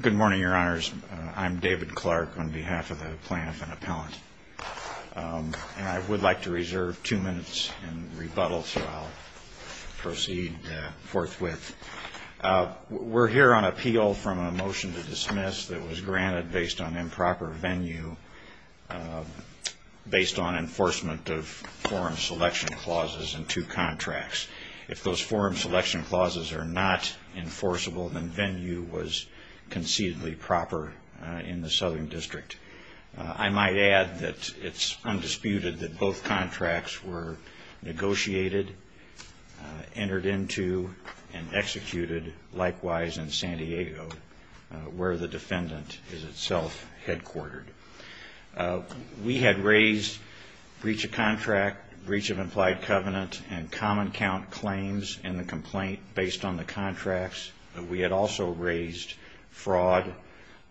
Good morning, Your Honors. I'm David Clark on behalf of the Plaintiff and Appellant. I would like to reserve two minutes and rebuttal, so I'll proceed forthwith. We're here on appeal from a motion to dismiss that was granted based on improper venue based on enforcement of forum selection clauses in two contracts. If those forum selection clauses are not enforceable, then venue was concededly proper in the Southern District. I might add that it's undisputed that both contracts were negotiated, entered into, and executed, likewise in San Diego, where the defendant is itself headquartered. We had raised breach of contract, breach of implied covenant, and common count claims in the complaint based on the contracts. We had also raised fraud,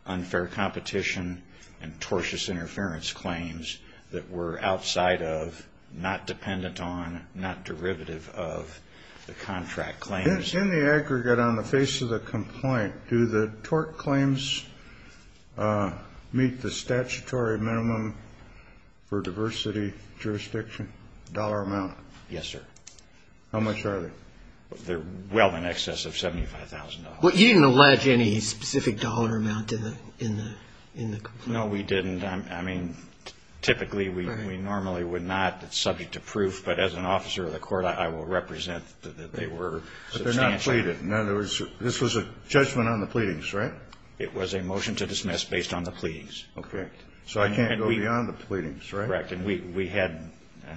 unfair competition, and tortious interference claims that were outside of, not dependent on, not derivative of the contract claims. In the aggregate, on the face of the complaint, do the tort claims meet the statutory minimum for diversity jurisdiction dollar amount? Yes, sir. How much are they? They're well in excess of $75,000. Well, you didn't allege any specific dollar amount in the complaint. No, we didn't. I mean, typically, we normally would not. It's subject to proof, but as an officer of the court, I will represent that they were. But they're not pleaded. In other words, this was a judgment on the pleadings, right? It was a motion to dismiss based on the pleadings. Okay. So I can't go beyond the pleadings, right? Correct. And we had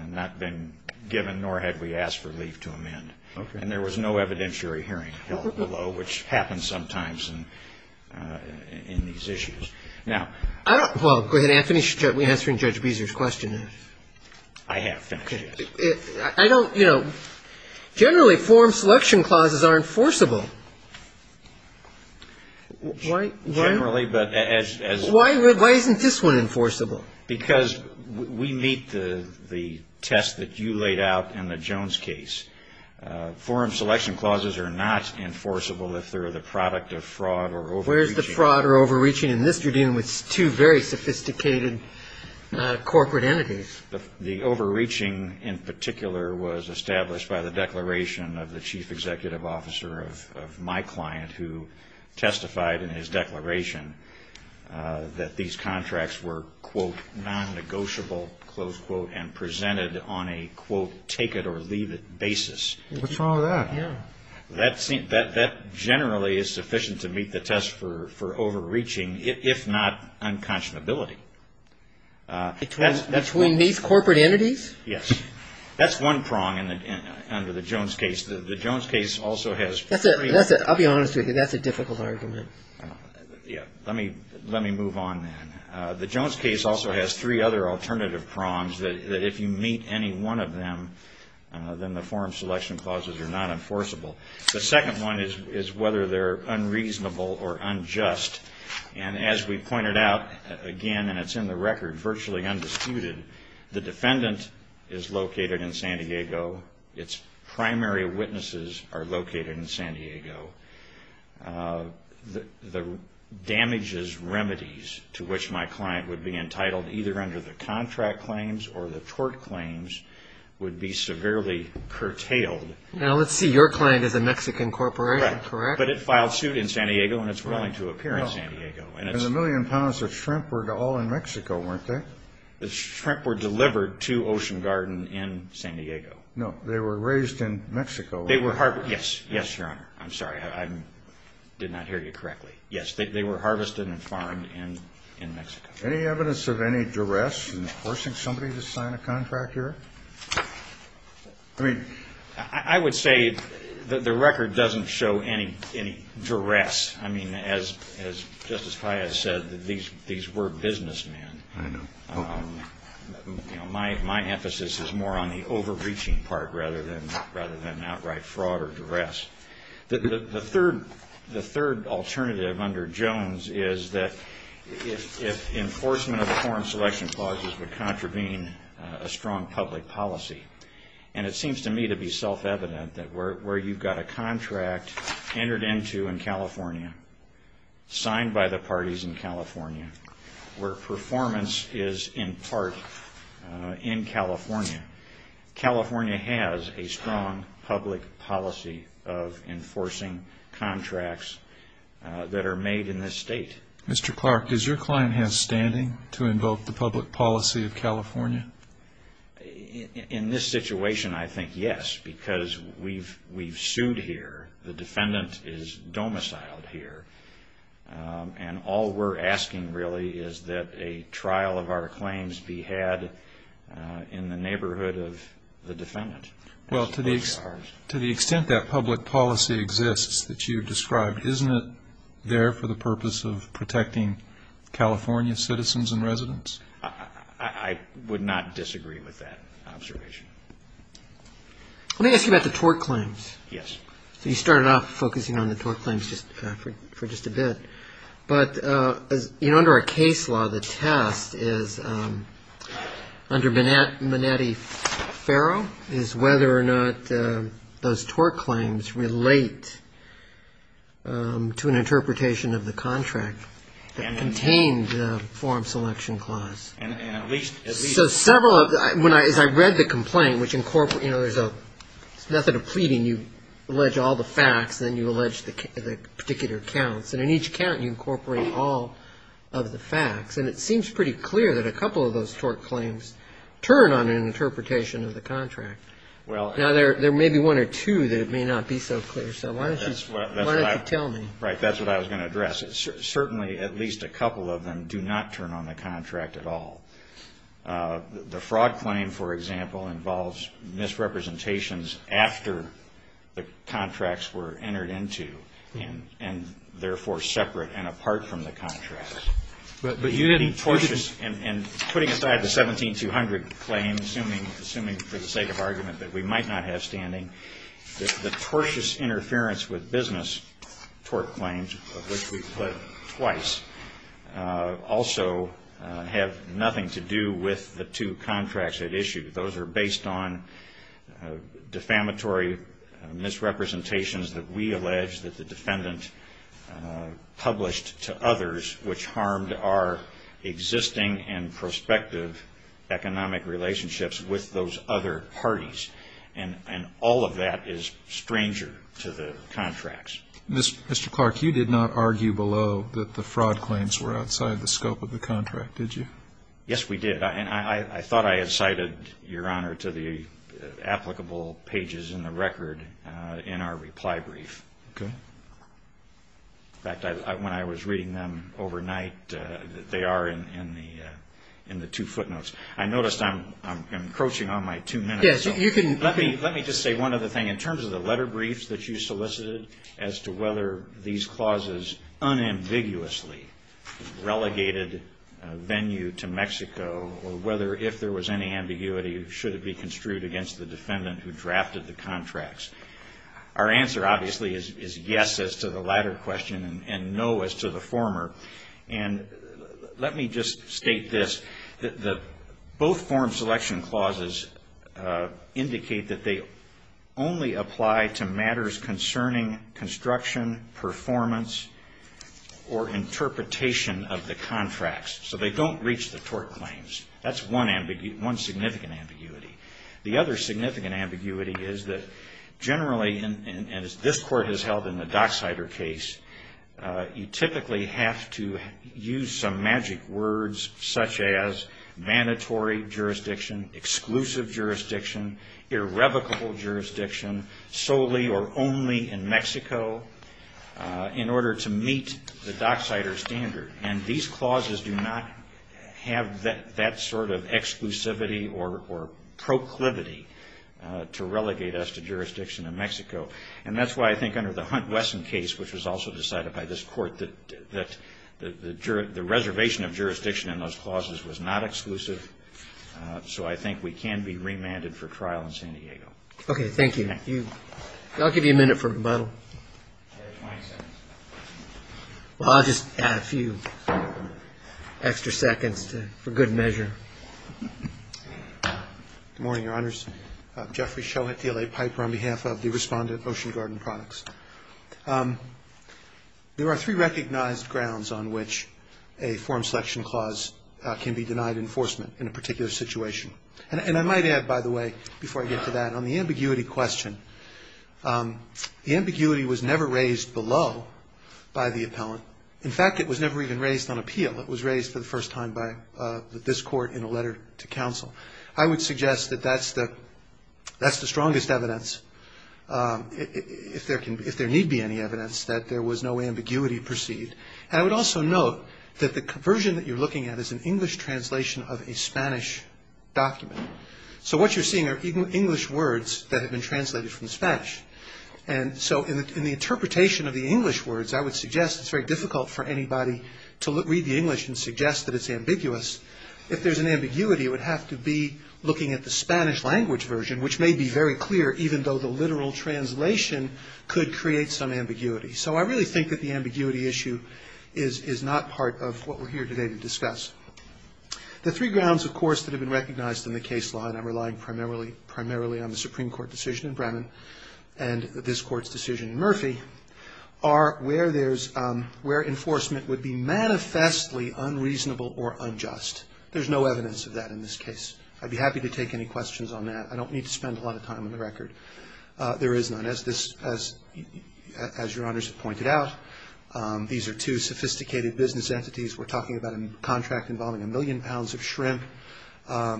not been given, nor had we asked for leave to amend. Okay. And there was no evidentiary hearing held below, which happens sometimes in these issues. Now, I don't go ahead. I finished answering Judge Beezer's question. I have finished, yes. I don't, you know, generally, forum selection clauses are enforceable. Why? Generally, but as. Why isn't this one enforceable? Because we meet the test that you laid out in the Jones case. Forum selection clauses are not enforceable if they're the product of fraud or overreaching. Where's the fraud or overreaching? In this, you're dealing with two very sophisticated corporate entities. The overreaching in particular was established by the declaration of the chief executive officer of my client who testified in his declaration that these contracts were, quote, nonnegotiable, close quote, and presented on a, quote, take it or leave it basis. What's wrong with that? Yeah. That generally is sufficient to meet the test for overreaching, if not unconscionability. Between these corporate entities? Yes. That's one prong under the Jones case. The Jones case also has three. I'll be honest with you. That's a difficult argument. Yeah. Let me move on then. The Jones case also has three other alternative prongs that if you meet any one of them, then the forum selection clauses are not enforceable. The second one is whether they're unreasonable or unjust. And as we pointed out, again, and it's in the record, virtually undisputed, the defendant is located in San Diego. Its primary witnesses are located in San Diego. The damages remedies to which my client would be entitled either under the contract claims or the tort claims would be severely curtailed. Now, let's see. Your client is a Mexican corporation, correct? But it filed suit in San Diego and it's willing to appear in San Diego. And the million pounds of shrimp were all in Mexico, weren't they? The shrimp were delivered to Ocean Garden in San Diego. No. They were raised in Mexico, weren't they? Yes. Yes, Your Honor. I'm sorry. I did not hear you correctly. Yes. They were harvested and farmed in Mexico. Any evidence of any duress in forcing somebody to sign a contract here? I mean, I would say that the record doesn't show any duress. I mean, as Justice Paya said, these were businessmen. I know. My emphasis is more on the overreaching part rather than outright fraud or duress. The third alternative under Jones is that if enforcement of foreign selection clauses would contravene a strong public policy. And it seems to me to be self-evident that where you've got a contract entered into in California, signed by the parties in California, where performance is in part in California, California has a strong public policy of enforcing contracts that are made in this state. Mr. Clark, does your client have standing to invoke the public policy of California? In this situation, I think yes, because we've sued here. The defendant is domiciled here. And all we're asking, really, is that a trial of our claims be had in the neighborhood of the defendant. Well, to the extent that public policy exists that you've described, isn't it there for the purpose of protecting California citizens and residents? I would not disagree with that observation. Let me ask you about the tort claims. Yes. So you started off focusing on the tort claims for just a bit. But, you know, under our case law, the test is, under Minetti-Ferro, is whether or not those tort claims relate to an interpretation of the contract that contained the foreign selection clause. And at least at least one of them. So several of them. As I read the complaint, which incorporates, you know, there's a method of pleading. You allege all the facts, then you allege the particular counts. And in each count, you incorporate all of the facts. And it seems pretty clear that a couple of those tort claims turn on an interpretation of the contract. Now, there may be one or two that it may not be so clear. So why don't you tell me? Right. That's what I was going to address. Certainly, at least a couple of them do not turn on the contract at all. The fraud claim, for example, involves misrepresentations after the contracts were entered into. And, therefore, separate and apart from the contract. But you didn't... The tortious, and putting aside the 17-200 claim, assuming for the sake of argument that we might not have standing, the tortious interference with business tort claims, of which we've put twice, also have nothing to do with the two contracts at issue. Those are based on defamatory misrepresentations that we allege that the defendant published to others, which harmed our existing and prospective economic relationships with those other parties. And all of that is stranger to the contracts. Mr. Clark, you did not argue below that the fraud claims were outside the scope of the contract, did you? Yes, we did. And I thought I had cited, Your Honor, to the applicable pages in the record in our reply brief. Okay. In fact, when I was reading them overnight, they are in the two footnotes. I noticed I'm encroaching on my two minutes. Yes, you can... Let me just say one other thing. In terms of the letter briefs that you solicited as to whether these clauses unambiguously relegated venue to Mexico, or whether if there was any ambiguity, should it be construed against the defendant who drafted the contracts? Our answer, obviously, is yes as to the latter question and no as to the former. And let me just state this. Both form selection clauses indicate that they only apply to matters concerning construction, performance, or interpretation of the contracts. So they don't reach the tort claims. That's one significant ambiguity. The other significant ambiguity is that generally, as this Court has held in the Dockside case, you typically have to use some magic words such as mandatory jurisdiction, exclusive jurisdiction, irrevocable jurisdiction, solely or only in Mexico, in order to meet the Dockside standard. And these clauses do not have that sort of exclusivity or proclivity to relegate us to jurisdiction in Mexico. And that's why I think under the Hunt-Wesson case, which was also decided by this Court, that the reservation of jurisdiction in those clauses was not exclusive. So I think we can be remanded for trial in San Diego. Okay, thank you. I'll give you a minute for rebuttal. You have 20 seconds. Well, I'll just add a few extra seconds for good measure. Good morning, Your Honors. Jeffrey Shohat, DLA Piper, on behalf of the Respondent Ocean Garden Products. There are three recognized grounds on which a form selection clause can be denied enforcement in a particular situation. And I might add, by the way, before I get to that, on the ambiguity question, the ambiguity was never raised below by the appellant. In fact, it was never even raised on appeal. It was raised for the first time by this Court in a letter to counsel. I would suggest that that's the strongest evidence, if there need be any evidence, that there was no ambiguity perceived. And I would also note that the version that you're looking at is an English translation of a Spanish document. So what you're seeing are English words that have been translated from Spanish. And so in the interpretation of the English words, I would suggest it's very difficult for anybody to read the English and suggest that it's ambiguous. If there's an ambiguity, it would have to be looking at the Spanish language version, which may be very clear, even though the literal translation could create some ambiguity. So I really think that the ambiguity issue is not part of what we're here today to discuss. The three grounds, of course, that have been recognized in the case law, and I'm relying primarily on the Supreme Court decision in Bremen and this Court's decision in Murphy, are where enforcement would be manifestly unreasonable or unjust. There's no evidence of that in this case. I'd be happy to take any questions on that. I don't need to spend a lot of time on the record. There is none, as Your Honors have pointed out. These are two sophisticated business entities. We're talking about a contract involving a million pounds of shrimp.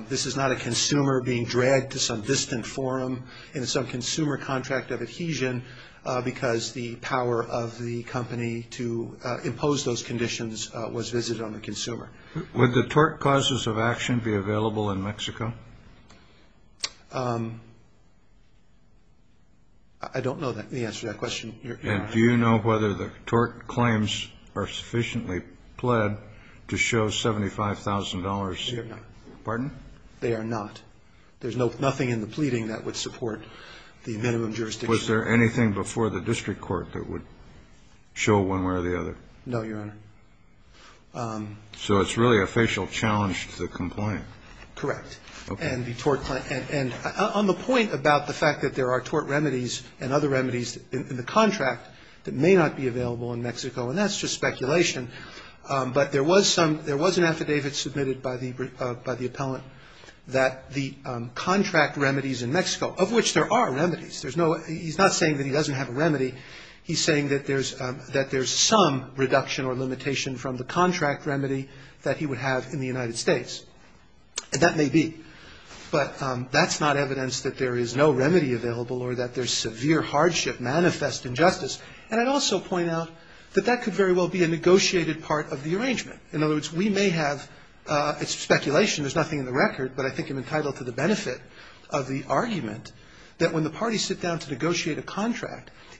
This is not a consumer being dragged to some distant forum in some consumer contract of adhesion because the power of the company to impose those conditions was visited on the consumer. Would the tort causes of action be available in Mexico? I don't know the answer to that question. And do you know whether the tort claims are sufficiently pled to show $75,000? They are not. Pardon? They are not. There's nothing in the pleading that would support the minimum jurisdiction. Was there anything before the district court that would show one way or the other? No, Your Honor. So it's really a facial challenge to the complaint. Correct. Okay. And the tort claim. And on the point about the fact that there are tort remedies and other remedies in the contract that may not be available in Mexico, and that's just speculation, but there was some, there was an affidavit submitted by the appellant that the contract remedies in Mexico, of which there are remedies. There's no, he's not saying that he doesn't have a remedy. He's saying that there's some reduction or limitation from the contract remedy that he would have in the United States. And that may be, but that's not evidence that there is no remedy available or that there's severe hardship, manifest injustice. And I'd also point out that that could very well be a negotiated part of the arrangement. In other words, we may have, it's speculation, there's nothing in the record, but I think I'm entitled to the benefit of the argument that when the parties sit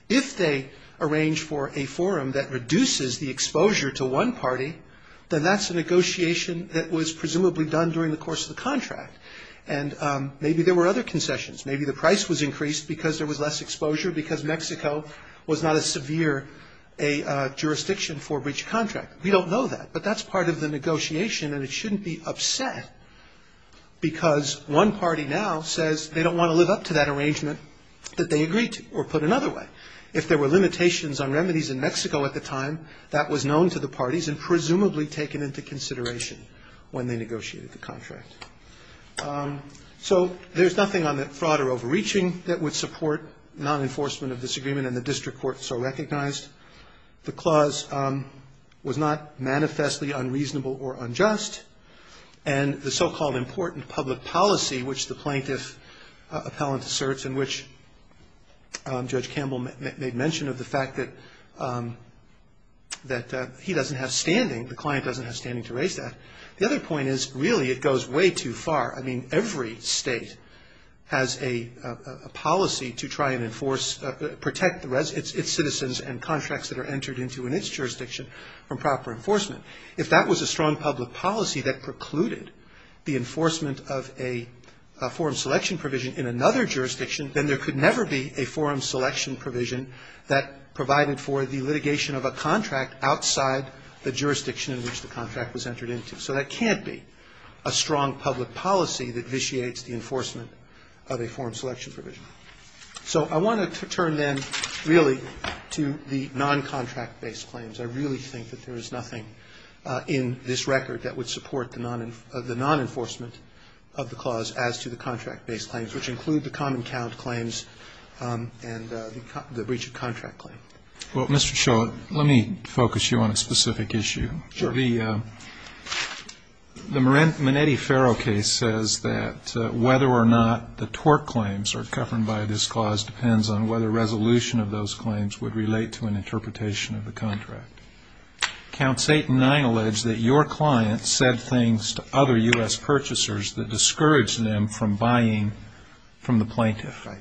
If they arrange for a forum that reduces the exposure to one party, then that's a negotiation that was presumably done during the course of the contract. And maybe there were other concessions. Maybe the price was increased because there was less exposure, because Mexico was not a severe jurisdiction for breach of contract. We don't know that. But that's part of the negotiation, and it shouldn't be upset, because one party now says they don't want to live up to that arrangement that they agreed to or put another way. If there were limitations on remedies in Mexico at the time, that was known to the parties and presumably taken into consideration when they negotiated the contract. So there's nothing on that fraud or overreaching that would support non-enforcement of this agreement and the district court so recognized. The clause was not manifestly unreasonable or unjust. And the so-called important public policy which the plaintiff appellant asserts in which Judge Campbell made mention of the fact that he doesn't have standing, the client doesn't have standing to raise that. The other point is really it goes way too far. I mean, every state has a policy to try and enforce, protect its citizens and contracts that are entered into in its jurisdiction from proper enforcement. If that was a strong public policy that precluded the enforcement of a forum selection provision in another jurisdiction, then there could never be a forum selection provision that provided for the litigation of a contract outside the jurisdiction in which the contract was entered into. So that can't be a strong public policy that vitiates the enforcement of a forum selection provision. So I want to turn then really to the non-contract-based claims. I really think that there is nothing in this record that would support the non-enforcement of the clause as to the contract-based claims, which include the common count claims and the breach of contract claim. Well, Mr. Shull, let me focus you on a specific issue. Sure. The Minetti-Ferro case says that whether or not the tort claims are covered by this clause depends on whether resolution of those claims would relate to an interpretation of the contract. Count Satan 9 alleged that your client said things to other U.S. purchasers that discouraged them from buying from the plaintiff. Right.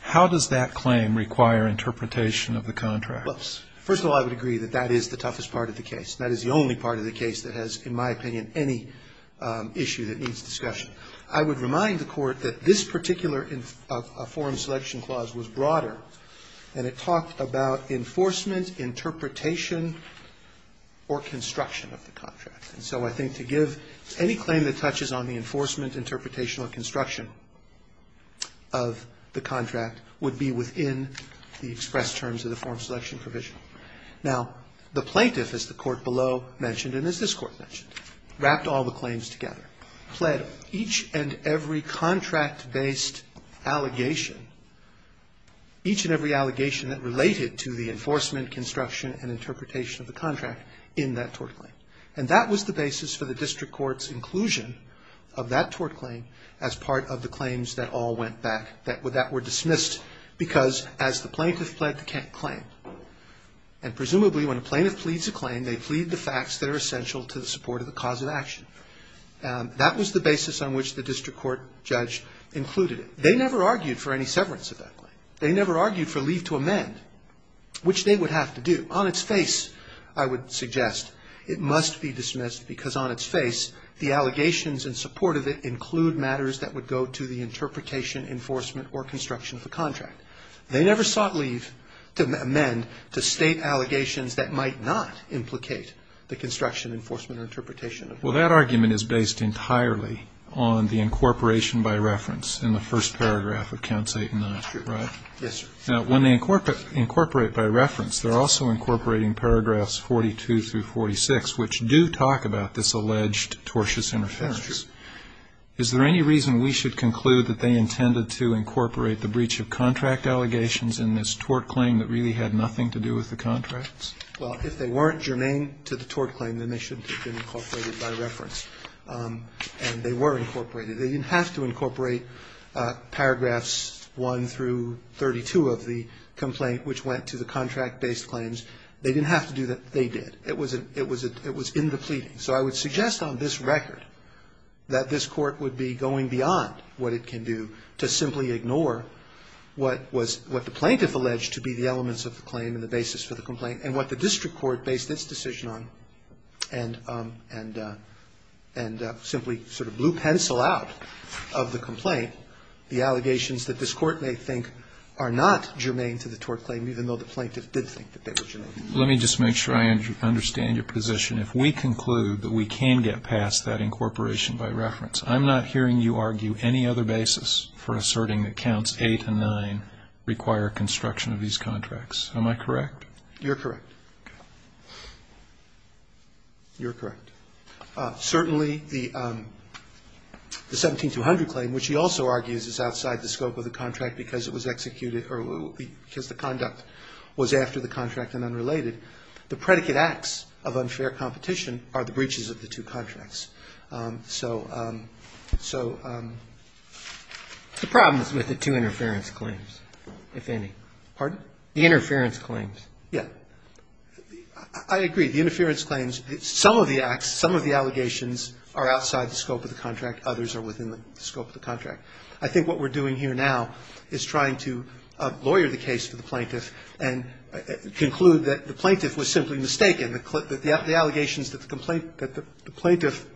How does that claim require interpretation of the contract? Well, first of all, I would agree that that is the toughest part of the case. That is the only part of the case that has, in my opinion, any issue that needs discussion. I would remind the Court that this particular forum selection clause was broader, and it talked about enforcement, interpretation, or construction of the contract. And so I think to give any claim that touches on the enforcement, interpretation, or construction of the contract would be within the express terms of the forum selection provision. Now, the plaintiff, as the Court below mentioned and as this Court mentioned, wrapped all the claims together, pled each and every contract-based allegation, each and every allegation that related to the enforcement, construction, and interpretation of the contract in that tort claim. And that was the basis for the district court's inclusion of that tort claim as part of the claims that all went back, that were dismissed, because as the plaintiff pled the claim. And presumably when a plaintiff pleads a claim, they plead the facts that are essential to the support of the cause of action. That was the basis on which the district court judge included it. They never argued for any severance of that claim. They never argued for leave to amend, which they would have to do. On its face, I would suggest it must be dismissed, because on its face the allegations in support of it include matters that would go to the interpretation, enforcement, or construction of the contract. They never sought leave to amend to state allegations that might not implicate the construction, enforcement, or interpretation of the contract. Well, that argument is based entirely on the incorporation by reference in the first paragraph of Counts 8 and 9, right? Yes, sir. Now, when they incorporate by reference, they're also incorporating paragraphs 42 through 46, which do talk about this alleged tortious interference. That's true. Is there any reason we should conclude that they intended to incorporate the breach of contract allegations in this tort claim that really had nothing to do with the contracts? Well, if they weren't germane to the tort claim, then they shouldn't have been incorporated by reference. And they were incorporated. They didn't have to incorporate paragraphs 1 through 32 of the complaint, which went to the contract-based claims. They didn't have to do that. They did. It was in the pleading. So I would suggest on this record that this Court would be going beyond what it can do to simply ignore what was the plaintiff alleged to be the elements of the claim and the basis for the complaint and what the district court based its decision on and simply sort of blew pencil out of the complaint, the allegations that this Court may think are not germane to the tort claim, even though the plaintiff did think that they were germane. Let me just make sure I understand your position. If we conclude that we can get past that incorporation by reference, I'm not hearing you argue any other basis for asserting that Counts 8 and 9 require construction of these contracts. Am I correct? You're correct. Okay. You're correct. Certainly the 17-200 claim, which he also argues is outside the scope of the contract because it was executed or because the conduct was after the contract and unrelated, the predicate acts of unfair competition are the breaches of the two contracts. So the problem is with the two interference claims, if any. Pardon? The interference claims. Yes. I agree. The interference claims, some of the acts, some of the allegations are outside the scope of the contract. Others are within the scope of the contract. I think what we're doing here now is trying to lawyer the case for the plaintiff and conclude that the plaintiff was simply mistaken, the allegations that the complaint that the plaintiff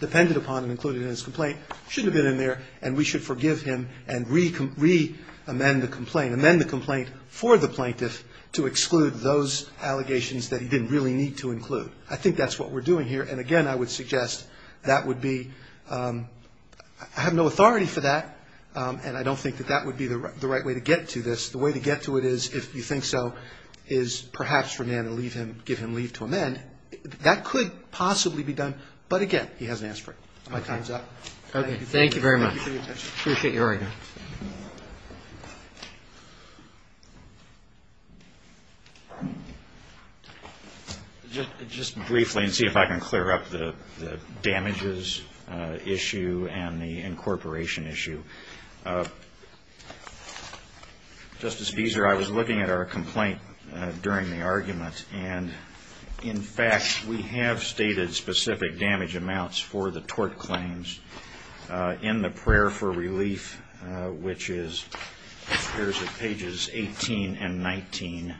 depended upon and included in his complaint shouldn't have been in there and we should forgive him and re-amend the complaint, amend the complaint for the plaintiff to exclude those allegations that he didn't really need to include. I think that's what we're doing here. And, again, I would suggest that would be ‑‑ I have no authority for that, and I don't think that that would be the right way to get to this. The way to get to it is, if you think so, is perhaps remand and leave him, give him leave to amend. That could possibly be done, but, again, he hasn't asked for it. My time is up. Okay. Thank you very much. Thank you for your attention. Appreciate your argument. Just briefly, and see if I can clear up the damages issue and the incorporation issue. Justice Fieser, I was looking at our complaint during the argument, and, in fact, we have stated specific damage amounts for the tort claims in the prayer for relief, which is appears at pages 18 and 19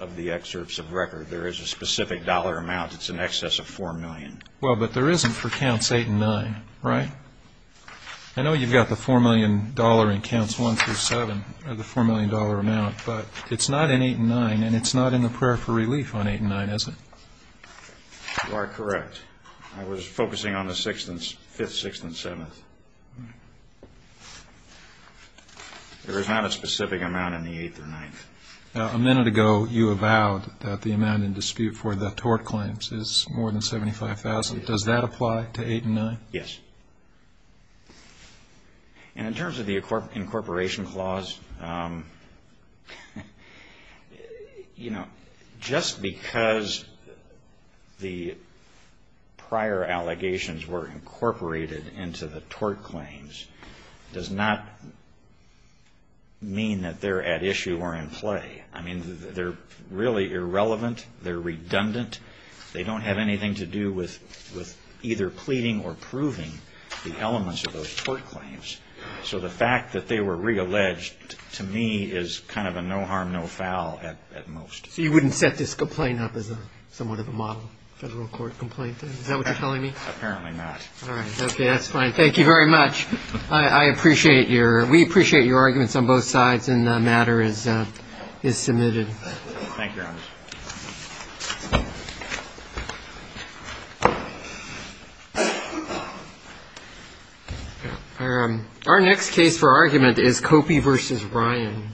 of the excerpts of record. There is a specific dollar amount. It's in excess of $4 million. Well, but there isn't for counts 8 and 9, right? I know you've got the $4 million in counts 1 through 7, the $4 million amount, but it's not in 8 and 9, and it's not in the prayer for relief on 8 and 9, is it? You are correct. I was focusing on the 5th, 6th, and 7th. All right. There is not a specific amount in the 8th or 9th. A minute ago, you avowed that the amount in dispute for the tort claims is more than $75,000. Does that apply to 8 and 9? Yes. And in terms of the incorporation clause, you know, just because the prior allegations were incorporated into the tort claims does not mean that they're at issue or in play. I mean, they're really irrelevant. They're redundant. They don't have anything to do with either pleading or proving the elements of those tort claims. So the fact that they were realleged, to me, is kind of a no harm, no foul at most. So you wouldn't set this complaint up as somewhat of a model federal court complaint? Is that what you're telling me? Apparently not. All right. Okay, that's fine. Thank you very much. I appreciate your – we appreciate your arguments on both sides, and the matter is submitted. Thank you, Your Honor. Thank you. Our next case for argument is Copey v. Ryan.